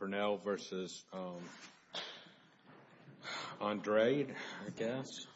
Pernell v. Andrade, I guess. Robert Pernell v. Andrade, I guess.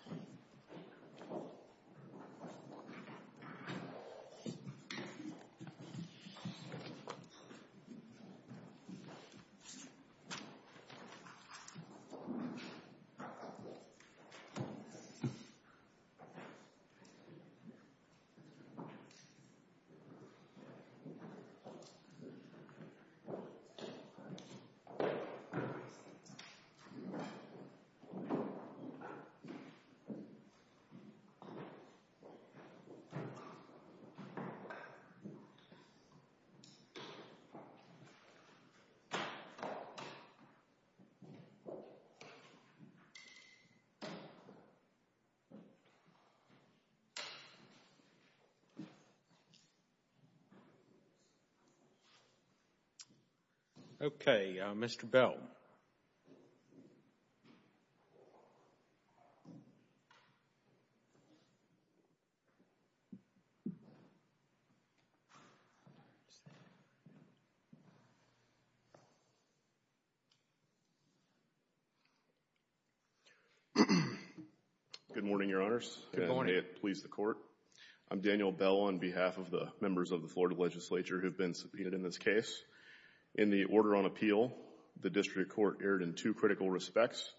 Okay, Mr. Bell. Good morning, Your Honors. Good morning. May it please the Court. I'm Daniel Bell on behalf of the members of the Florida Legislature who have been subpoenaed in this case. In the order on appeal, the District Court erred in two critical respects.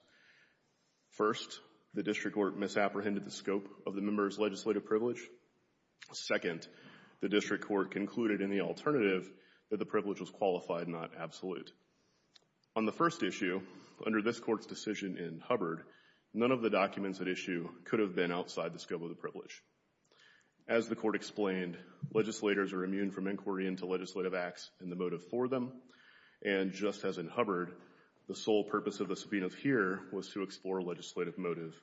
First, the District Court misapprehended the scope of the member's legislative privilege. Second, the District Court concluded in the alternative that the privilege was qualified, not absolute. On the first issue, under this Court's decision in Hubbard, none of the documents at issue could have been outside the scope of the privilege. As the Court explained, legislators are immune from inquiry into legislative acts in the legislative motive for them, and just as in Hubbard, the sole purpose of the subpoenas here was to explore legislative motive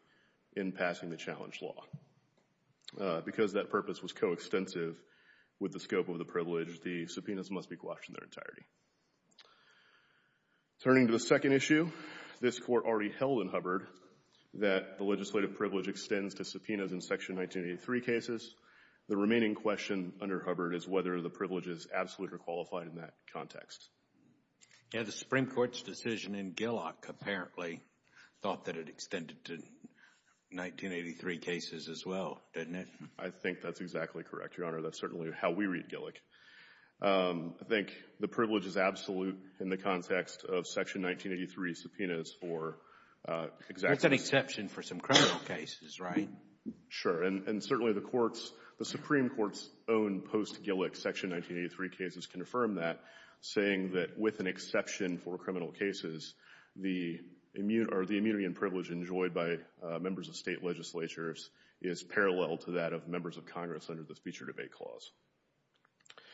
in passing the challenge law. Because that purpose was coextensive with the scope of the privilege, the subpoenas must be quashed in their entirety. Turning to the second issue, this Court already held in Hubbard that the legislative privilege extends to subpoenas in Section 1983 cases. The remaining question under Hubbard is whether the privileges absolute or qualified in that context. Yeah. The Supreme Court's decision in Gillick apparently thought that it extended to 1983 cases as well, didn't it? I think that's exactly correct, Your Honor. That's certainly how we read Gillick. I think the privilege is absolute in the context of Section 1983 subpoenas for exactly That's an exception for some criminal cases, right? Sure. And certainly the Supreme Court's own post-Gillick Section 1983 cases confirm that, saying that with an exception for criminal cases, the immunity and privilege enjoyed by members of state legislatures is parallel to that of members of Congress under the Feature Debate Clause.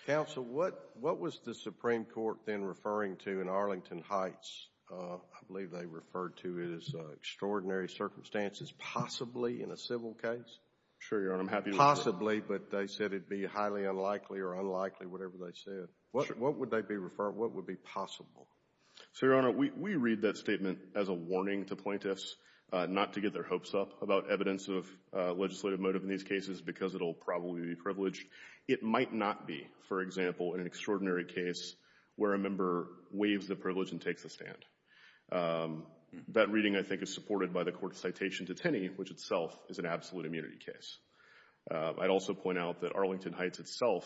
Counsel, what was the Supreme Court then referring to in Arlington Heights? I believe they referred to it as extraordinary circumstances, possibly in a civil case. Sure, Your Honor. I'm happy to refer. Possibly, but they said it'd be highly unlikely or unlikely, whatever they said. What would they be referring, what would be possible? So, Your Honor, we read that statement as a warning to plaintiffs not to get their hopes up about evidence of legislative motive in these cases because it'll probably be privileged. It might not be, for example, in an extraordinary case where a member waives the privilege and That reading, I think, is supported by the Court's citation to Tenney, which itself is an absolute immunity case. I'd also point out that Arlington Heights itself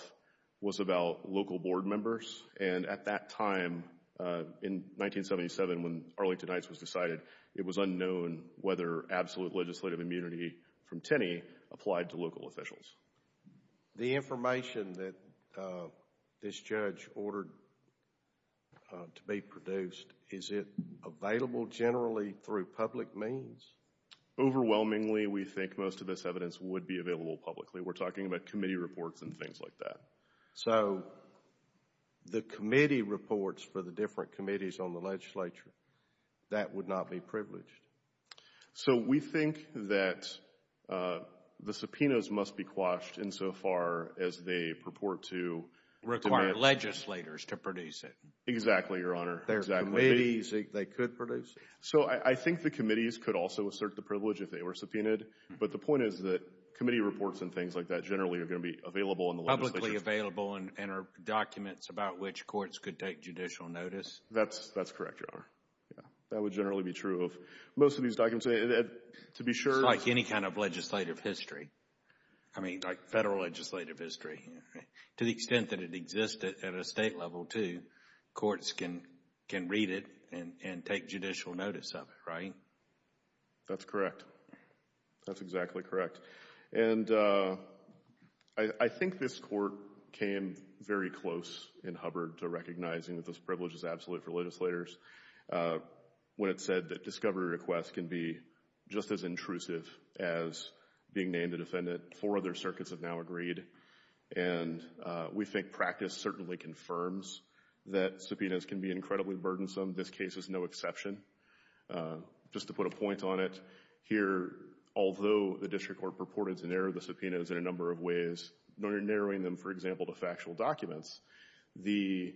was about local board members, and at that time, in 1977, when Arlington Heights was decided, it was unknown whether absolute legislative immunity from Tenney applied to local officials. The information that this judge ordered to be produced, is it available generally through public means? Overwhelmingly, we think most of this evidence would be available publicly. We're talking about committee reports and things like that. So, the committee reports for the different committees on the legislature, that would not be privileged? So, we think that the subpoenas must be quashed insofar as they purport to require legislators to produce it. Exactly, Your Honor. There are committees they could produce. So, I think the committees could also assert the privilege if they were subpoenaed, but the point is that committee reports and things like that generally are going to be available in the legislature. Publicly available and are documents about which courts could take judicial notice? That's correct, Your Honor. That would generally be true of most of these documents. To be sure... It's like any kind of legislative history. I mean, like federal legislative history. To the extent that it exists at a state level, too, courts can read it and take judicial notice of it, right? That's correct. That's exactly correct. And I think this court came very close in Hubbard to recognizing that this privilege is absolute for legislators when it said that discovery requests can be just as intrusive as being named a defendant. Four other circuits have now agreed, and we think practice certainly confirms that subpoenas can be incredibly burdensome. This case is no exception. Just to put a point on it, here, although the district court purported to narrow the subpoenas in a number of ways, narrowing them, for example, to factual documents, the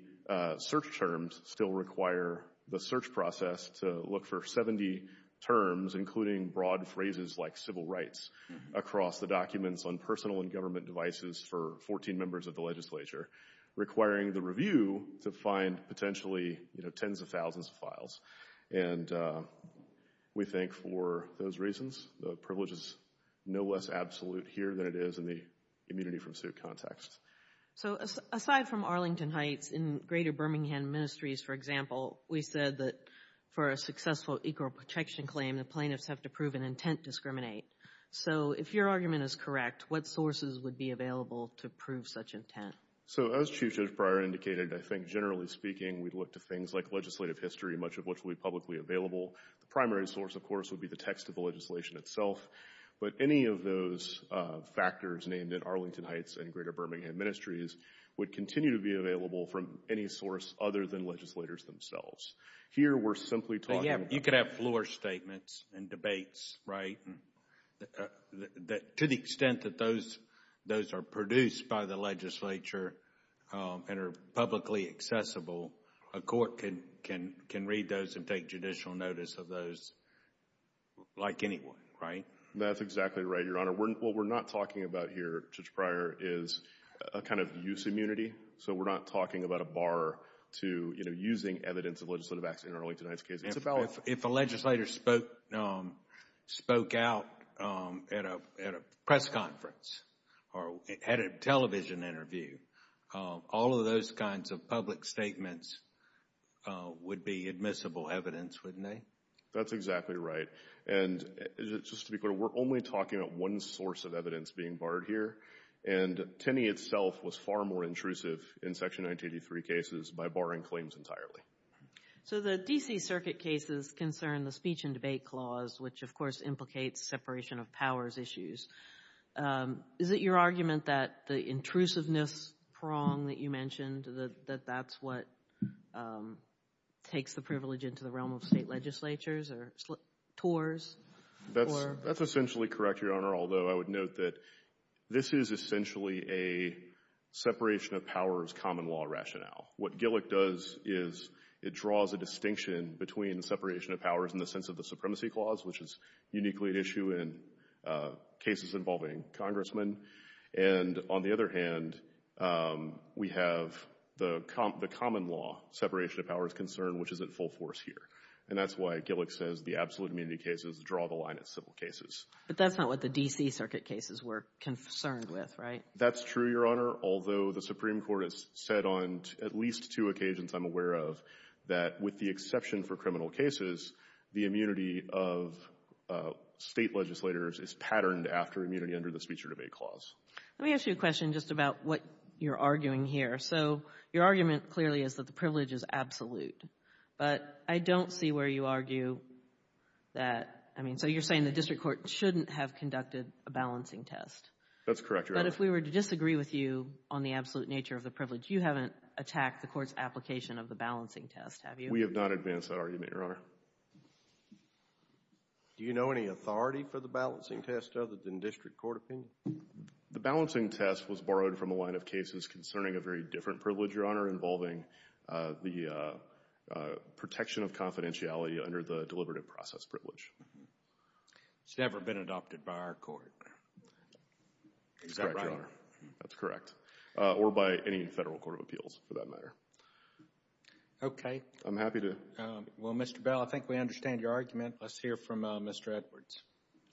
search terms still require the search process to look for 70 terms, including broad phrases like civil rights, across the documents on personal and government devices for 14 members of the legislature, requiring the review to find potentially tens of thousands of files. And we think for those reasons, the privilege is no less absolute here than it is in the immunity from suit context. So aside from Arlington Heights, in Greater Birmingham Ministries, for example, we said that for a successful equal protection claim, the plaintiffs have to prove an intent to discriminate. So if your argument is correct, what sources would be available to prove such intent? So as Chief Judge Breyer indicated, I think generally speaking, we'd look to things like legislative history, much of which will be publicly available. The primary source, of course, would be the text of the legislation itself. But any of those factors named in Arlington Heights and Greater Birmingham Ministries would continue to be available from any source other than legislators themselves. Here, we're simply talking about- You could have floor statements and debates, right? To the extent that those are produced by the legislature and are publicly accessible, a court can read those and take judicial notice of those, like anyone, right? That's exactly right, Your Honor. What we're not talking about here, Judge Breyer, is a kind of use immunity. So we're not talking about a bar to using evidence of legislative action in Arlington Heights case. It's about- If a legislator spoke out at a press conference or at a television interview, all of those kinds of public statements would be admissible evidence, wouldn't they? That's exactly right. And just to be clear, we're only talking about one source of evidence being barred here. And Tenney itself was far more intrusive in Section 1983 cases by barring claims entirely. So the D.C. Circuit cases concern the speech and debate clause, which, of course, implicates separation of powers issues. Is it your argument that the intrusiveness prong that you mentioned, that that's what takes the privilege into the realm of state legislatures or TORs or- That's essentially correct, Your Honor, although I would note that this is essentially a separation of powers common law rationale. What Gillick does is it draws a distinction between the separation of powers in the sense of the supremacy clause, which is uniquely an issue in cases involving congressmen. And on the other hand, we have the common law separation of powers concern, which is at full force here. And that's why Gillick says the absolute immunity cases draw the line at civil cases. But that's not what the D.C. Circuit cases were concerned with, right? That's true, Your Honor, although the Supreme Court has said on at least two occasions, I'm aware of, that with the exception for criminal cases, the immunity of state Let me ask you a question just about what you're arguing here. So your argument clearly is that the privilege is absolute, but I don't see where you argue that, I mean, so you're saying the district court shouldn't have conducted a balancing test. That's correct, Your Honor. But if we were to disagree with you on the absolute nature of the privilege, you haven't attacked the court's application of the balancing test, have you? We have not advanced that argument, Your Honor. Do you know any authority for the balancing test other than district court opinion? The balancing test was borrowed from a line of cases concerning a very different privilege, Your Honor, involving the protection of confidentiality under the deliberative process privilege. It's never been adopted by our court. Is that right? That's correct. Or by any federal court of appeals, for that matter. Okay. I'm happy to. Well, Mr. Bell, I think we understand your argument. Let's hear from Mr. Edwards.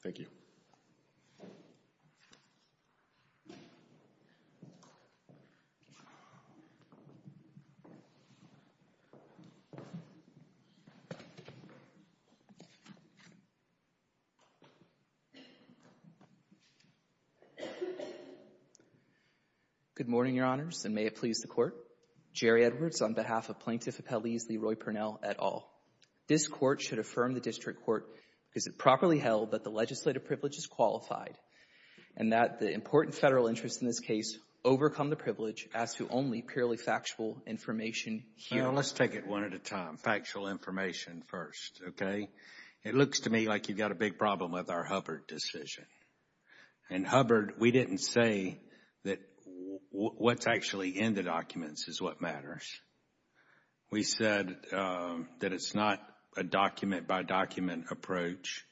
Thank you. Thank you. Good morning, Your Honors, and may it please the Court. Jerry Edwards on behalf of Plaintiff Appellees Leroy Purnell, et al. This Court should affirm the district court because it properly held that the legislative privilege is qualified and that the important federal interests in this case overcome the privilege as to only purely factual information here. Let's take it one at a time. Factual information first, okay? It looks to me like you've got a big problem with our Hubbard decision. In Hubbard, we didn't say that what's actually in the documents is what matters. We said that it's not a document-by-document approach.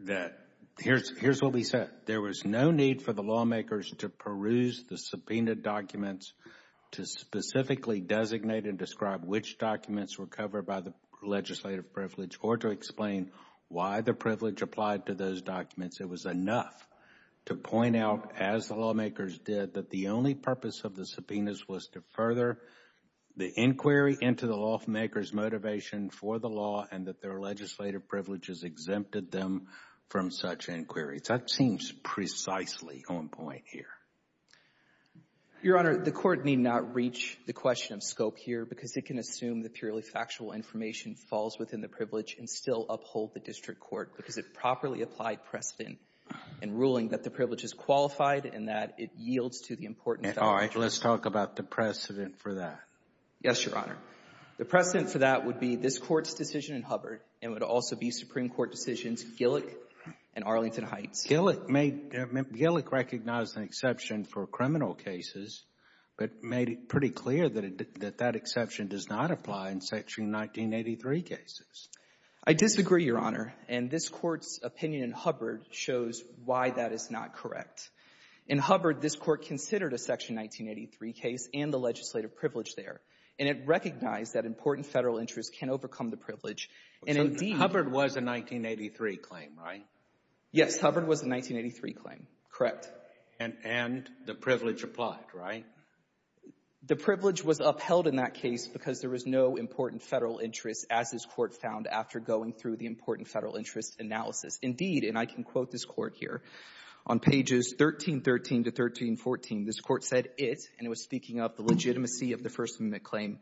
That here's what we said. There was no need for the lawmakers to peruse the subpoenaed documents to specifically designate and describe which documents were covered by the legislative privilege or to explain why the privilege applied to those documents. It was enough to point out, as the lawmakers did, that the only purpose of the subpoenas was to further the inquiry into the lawmakers' motivation for the law and that their legislative privileges exempted them from such inquiries. That seems precisely on point here. Your Honor, the Court need not reach the question of scope here because it can assume that purely factual information falls within the privilege and still uphold the district court because it properly applied precedent in ruling that the privilege is qualified and that it yields to the important facts. All right. Let's talk about the precedent for that. Yes, Your Honor. The precedent for that would be this Court's decision in Hubbard and would also be Supreme Court decisions Gillick and Arlington Heights. Gillick recognized an exception for criminal cases but made it pretty clear that that exception does not apply in Section 1983 cases. I disagree, Your Honor. And this Court's opinion in Hubbard shows why that is not correct. In Hubbard, this Court considered a Section 1983 case and the legislative privilege there. And it recognized that important Federal interests can overcome the privilege. So Hubbard was a 1983 claim, right? Yes. Hubbard was a 1983 claim. Correct. And the privilege applied, right? The privilege was upheld in that case because there was no important Federal interest, as this Court found after going through the important Federal interest analysis. Indeed, and I can quote this Court here. On pages 1313 to 1314, this Court said it, and it was speaking of the legitimacy of the First Amendment claim,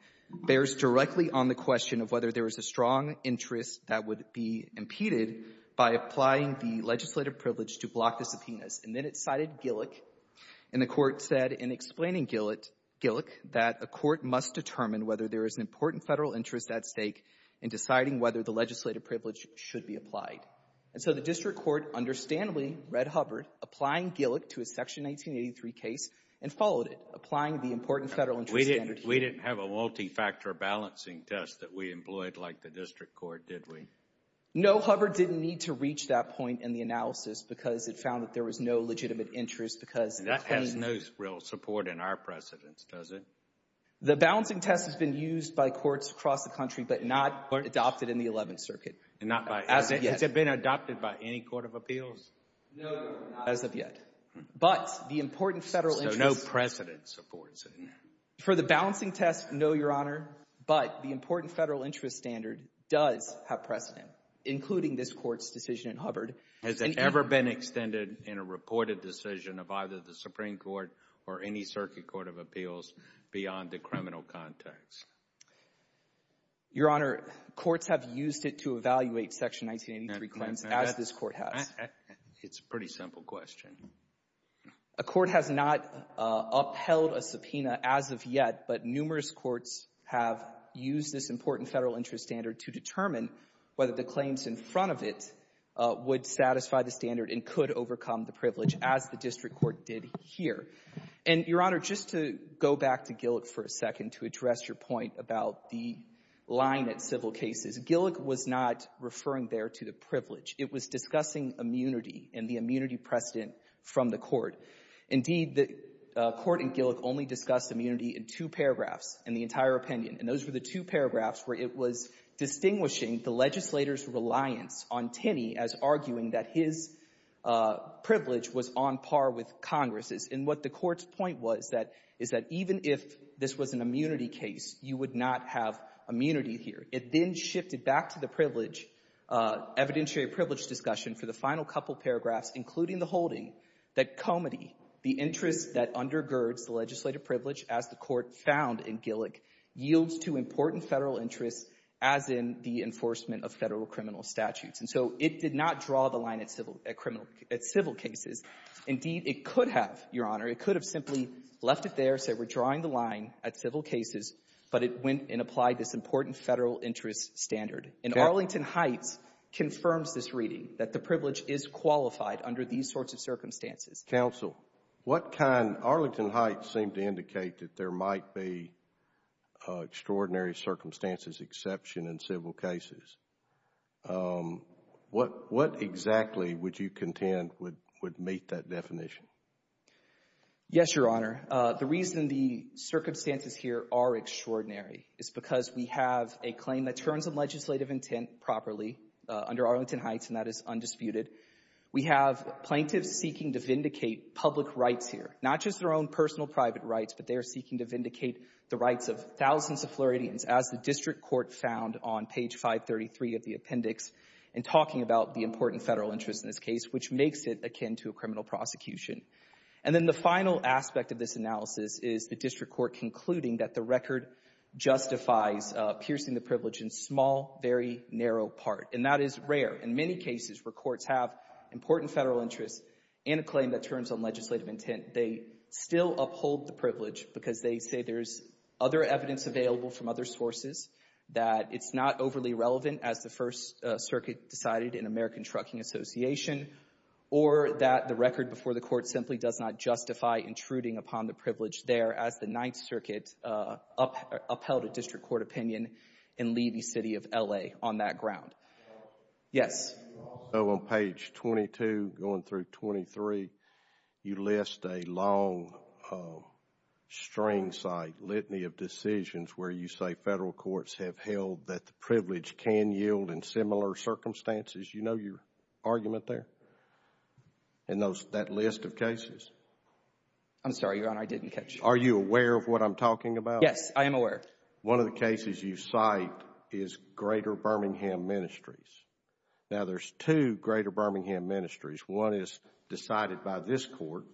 bears directly on the question of whether there is a strong interest that would be impeded by applying the legislative privilege to block the subpoenas. And then it cited Gillick. And the Court said in explaining Gillick that a court must determine whether there is an important Federal interest at stake in deciding whether the legislative privilege should be applied. And so the district court understandably read Hubbard, applying Gillick to a Section 1983 case, and followed it, applying the important Federal interest standard. We didn't have a multi-factor balancing test that we employed like the district court, did we? No, Hubbard didn't need to reach that point in the analysis because it found that there was no legitimate interest because the claim— That has no real support in our precedence, does it? The balancing test has been used by courts across the country but not adopted in the Eleventh Circuit. And not by— As of yet. Has it been adopted by any court of appeals? No, not as of yet. But the important Federal interest— So no precedent supports it? For the balancing test, no, Your Honor. But the important Federal interest standard does have precedent, including this Court's decision in Hubbard. Has it ever been extended in a reported decision of either the Supreme Court or any court of appeals beyond the criminal context? Your Honor, courts have used it to evaluate Section 1983 claims as this Court has. It's a pretty simple question. A court has not upheld a subpoena as of yet, but numerous courts have used this important Federal interest standard to determine whether the claims in front of it would satisfy the standard and could overcome the privilege as the district court did here. And, Your Honor, just to go back to Gillick for a second to address your point about the line at civil cases, Gillick was not referring there to the privilege. It was discussing immunity and the immunity precedent from the court. Indeed, the court in Gillick only discussed immunity in two paragraphs in the entire opinion. And those were the two paragraphs where it was distinguishing the legislator's reliance on Tinney as arguing that his privilege was on par with Congress's. And what the court's point was is that even if this was an immunity case, you would not have immunity here. It then shifted back to the privilege, evidentiary privilege discussion for the final couple paragraphs, including the holding that comity, the interest that undergirds the legislative privilege as the court found in Gillick, yields to important Federal interests as in the enforcement of Federal criminal statutes. And so it did not draw the line at civil cases. Indeed, it could have, Your Honor. It could have simply left it there, said we're drawing the line at civil cases, but it went and applied this important Federal interest standard. And Arlington Heights confirms this reading, that the privilege is qualified under these sorts of circumstances. Counsel, what can Arlington Heights seem to indicate that there might be extraordinary circumstances exception in civil cases? What exactly would you contend would meet that definition? Yes, Your Honor. The reason the circumstances here are extraordinary is because we have a claim that turns on legislative intent properly under Arlington Heights, and that is undisputed. We have plaintiffs seeking to vindicate public rights here, not just their own personal private rights, but they are seeking to vindicate the rights of thousands of Floridians, as the district court found on page 533 of the appendix in talking about the important Federal interest in this case, which makes it akin to a criminal prosecution. And then the final aspect of this analysis is the district court concluding that the record justifies piercing the privilege in small, very narrow part. And that is rare. In many cases where courts have important Federal interests and a claim that turns on legislative intent, they still uphold the privilege because they say there's other evidence available from other sources, that it's not overly relevant as the First Circuit decided in American Trucking Association, or that the record before the court simply does not justify intruding upon the privilege there as the Ninth Circuit upheld a district court opinion in Levy City of L.A. on that ground. Yes. So on page 22 going through 23, you list a long string site, litany of decisions where you say Federal courts have held that the privilege can yield in similar circumstances. You know your argument there? And that list of cases? I'm sorry, Your Honor, I didn't catch you. Are you aware of what I'm talking about? Yes, I am aware. One of the cases you cite is Greater Birmingham Ministries. Now, there's two Greater Birmingham Ministries. One is decided by this court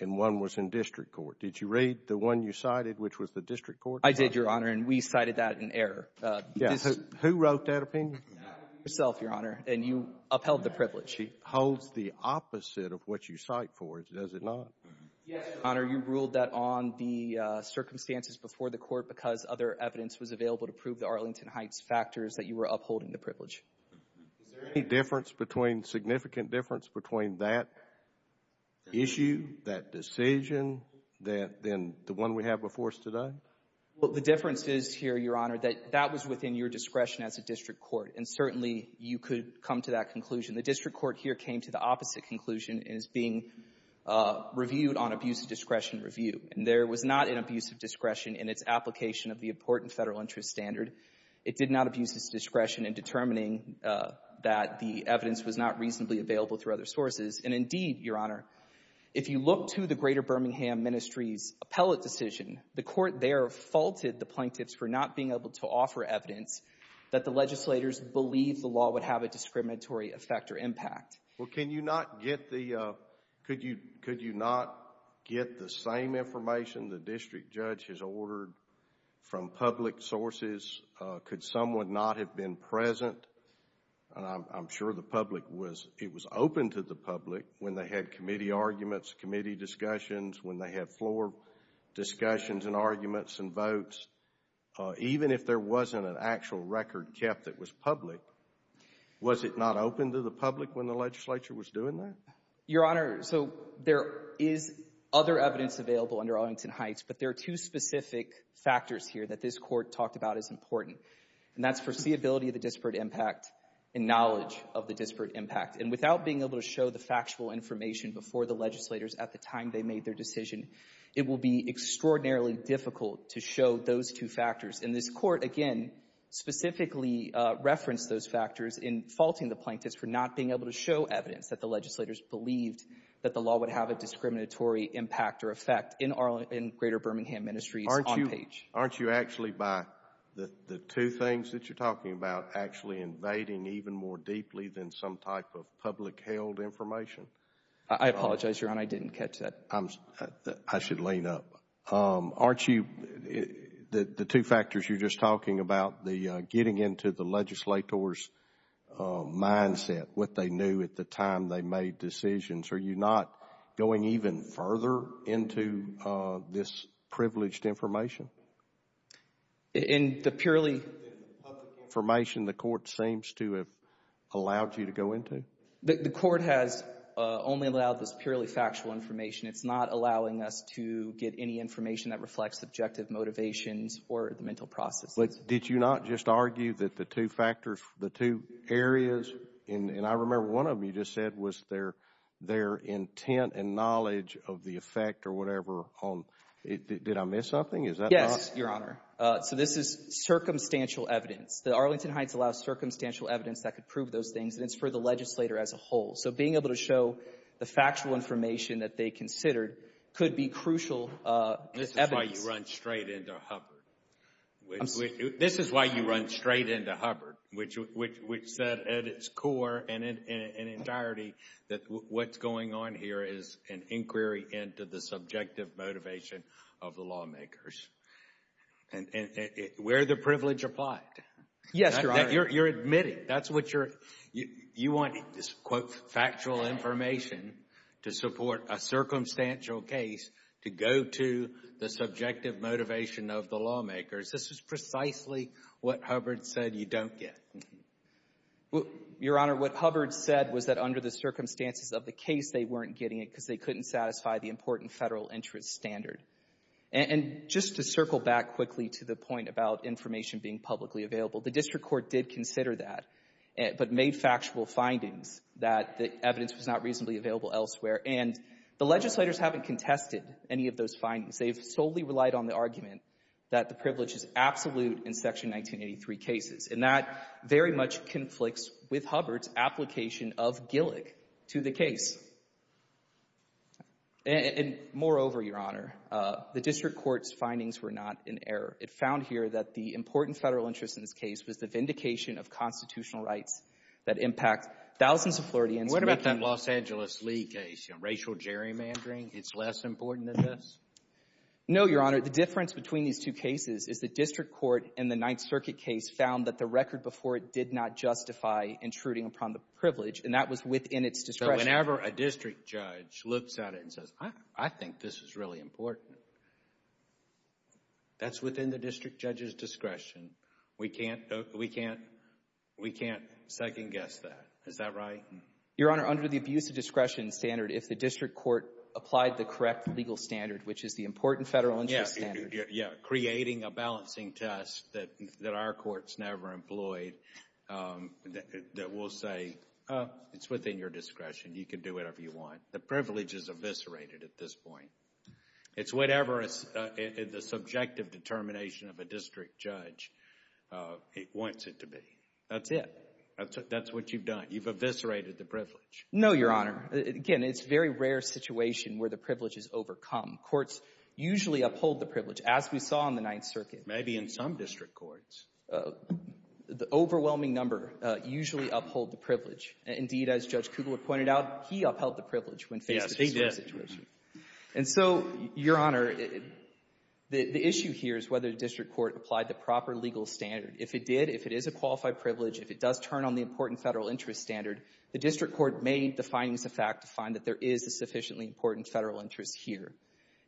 and one was in district court. Did you read the one you cited, which was the district court? I did, Your Honor, and we cited that in error. Who wrote that opinion? Yourself, Your Honor, and you upheld the privilege. She holds the opposite of what you cite for it, does it not? Yes, Your Honor. You ruled that on the circumstances before the court because other evidence was available to prove the Arlington Heights factors that you were upholding the privilege. Is there any difference between, significant difference between that issue, that decision, than the one we have before us today? Well, the difference is here, Your Honor, that that was within your discretion as a district court, and certainly you could come to that conclusion. The district court here came to the opposite conclusion and is being reviewed on abuse of discretion review, and there was not an abuse of discretion in its application of the important federal interest standard. It did not abuse its discretion in determining that the evidence was not reasonably available through other sources. And indeed, Your Honor, if you look to the Greater Birmingham Ministry's appellate decision, the court there faulted the plaintiffs for not being able to offer evidence that the legislators believed the law would have a discriminatory effect or impact. Well, can you not get the, could you not get the same information the district judge has ordered from public sources? Could someone not have been present? And I'm sure the public was, it was open to the public when they had committee arguments, committee discussions, when they had floor discussions and arguments and votes. Even if there wasn't an actual record kept that was public, was it not open to the public when the legislature was doing that? Your Honor, so there is other evidence available under Arlington Heights, but there are two specific factors here that this court talked about as important. And that's foreseeability of the disparate impact and knowledge of the disparate impact. And without being able to show the factual information before the legislators at the time they made their decision, it will be extraordinarily difficult to show those two factors. And this court, again, specifically referenced those factors in faulting the plaintiffs for not being able to show evidence that the legislators believed that the law would have a discriminatory impact or effect in greater Birmingham Ministries on page. Aren't you actually, by the two things that you're talking about, actually invading even more deeply than some type of public-held information? I apologize, Your Honor, I didn't catch that. I should lean up. Aren't you, the two factors you're just talking about, the getting into the legislators' mindset, what they knew at the time they made decisions, are you not going even further into this privileged information? In the purely public information the court seems to have allowed you to go into? The court has only allowed this purely factual information. It's not allowing us to get any information that reflects subjective motivations or the mental processes. But did you not just argue that the two factors, the two areas, and I remember one of them you just said was their intent and knowledge of the effect or whatever on, did I miss something? Yes, Your Honor. So this is circumstantial evidence. The Arlington Heights allows circumstantial evidence that could prove those things, and it's for the legislator as a whole. So being able to show the factual information that they considered could be crucial evidence. This is why you run straight into Hubbard. This is why you run straight into Hubbard, which said at its core and in entirety that what's going on here is an inquiry into the subjective motivation of the lawmakers. Where the privilege applied. Yes, Your Honor. You're admitting. That's what you're, you want this quote factual information to support a circumstantial case to go to the subjective motivation of the lawmakers. This is precisely what Hubbard said you don't get. Your Honor, what Hubbard said was that under the circumstances of the case, they weren't getting it because they couldn't satisfy the important federal interest standard. And just to circle back quickly to the point about information being publicly available, the district court did consider that, but made factual findings that the evidence was not reasonably available elsewhere. And the legislators haven't contested any of those findings. They've solely relied on the argument that the privilege is absolute in Section 1983 cases. And that very much conflicts with Hubbard's application of Gillick to the case. And moreover, Your Honor, the district court's findings were not in error. It found here that the important federal interest in this case was the vindication of constitutional rights that impact thousands of Floridians. What about that Los Angeles Lee case? Racial gerrymandering? It's less important than this? No, Your Honor. The difference between these two cases is the district court in the Ninth Circuit case found that the record before it did not justify intruding upon the privilege. And that was within its discretion. Whenever a district judge looks at it and says, I think this is really important. That's within the district judge's discretion. We can't, we can't, we can't second guess that. Is that right? Your Honor, under the abuse of discretion standard, if the district court applied the correct legal standard, which is the important federal interest standard. Yeah, creating a balancing test that our court's never employed, that will say, oh, it's within your discretion. You can do whatever you want. The privilege is eviscerated at this point. It's whatever the subjective determination of a district judge wants it to be. That's it. That's what you've done. You've eviscerated the privilege. No, Your Honor. Again, it's a very rare situation where the privilege is overcome. Courts usually uphold the privilege, as we saw in the Ninth Circuit. Maybe in some district courts. The overwhelming number usually uphold the privilege. Indeed, as Judge Kugler pointed out, he upheld the privilege when faced with this situation. And so, Your Honor, the issue here is whether the district court applied the proper legal standard. If it did, if it is a qualified privilege, if it does turn on the important federal interest standard, the district court made the findings a fact to find that there is a sufficiently important federal interest here.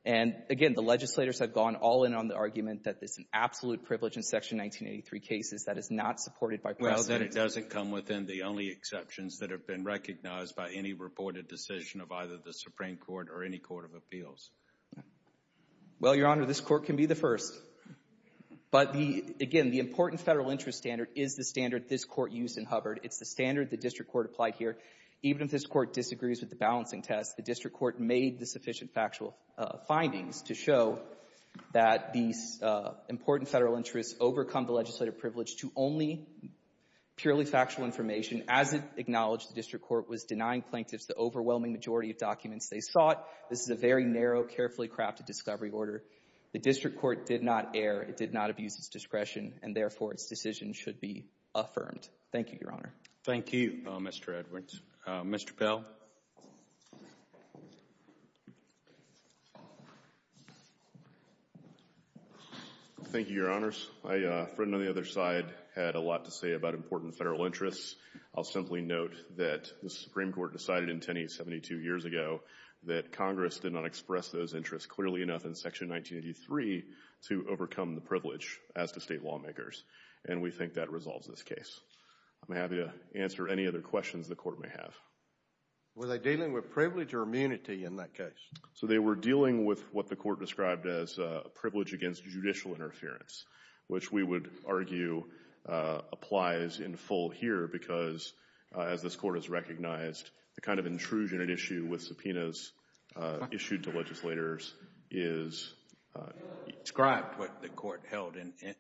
And again, the legislators have gone all in on the argument that there's an absolute privilege in Section 1983 cases that is not supported by precedent. Well, that it doesn't come within the only exceptions that have been recognized by any reported decision of either the Supreme Court or any court of appeals. Well, Your Honor, this Court can be the first. But the — again, the important federal interest standard is the standard this Court used in Hubbard. It's the standard the district court applied here. Even if this Court disagrees with the balancing test, the district court made the sufficient factual findings to show that these important federal interests overcome the legislative privilege to only purely factual information as it acknowledged the district court was denying plaintiffs the overwhelming majority of documents they sought. This is a very narrow, carefully crafted discovery order. The district court did not err. It did not abuse its discretion. And therefore, its decision should be affirmed. Thank you, Your Honor. Thank you, Mr. Edwards. Mr. Pell. Thank you, Your Honors. My friend on the other side had a lot to say about important federal interests. I'll simply note that the Supreme Court decided in Tenney 72 years ago that Congress did not express those interests clearly enough in Section 1983 to overcome the privilege as to State lawmakers. And we think that resolves this case. I'm happy to answer any other questions the Court may have. Were they dealing with privilege or immunity in that case? So they were dealing with what the Court described as privilege against judicial interference, which we would argue applies in full here because, as this Court has issued to legislators, is described what the Court held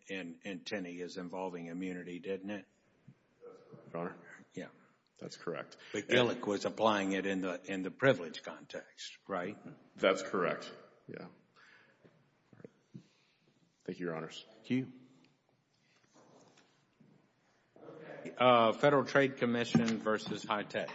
in Tenney as involving immunity, didn't it? That's correct, Your Honor. Yeah. That's correct. But Gillick was applying it in the privilege context, right? That's correct. Yeah. Thank you, Your Honors. Thank you. Federal Trade Commission versus HITECH. Thank you.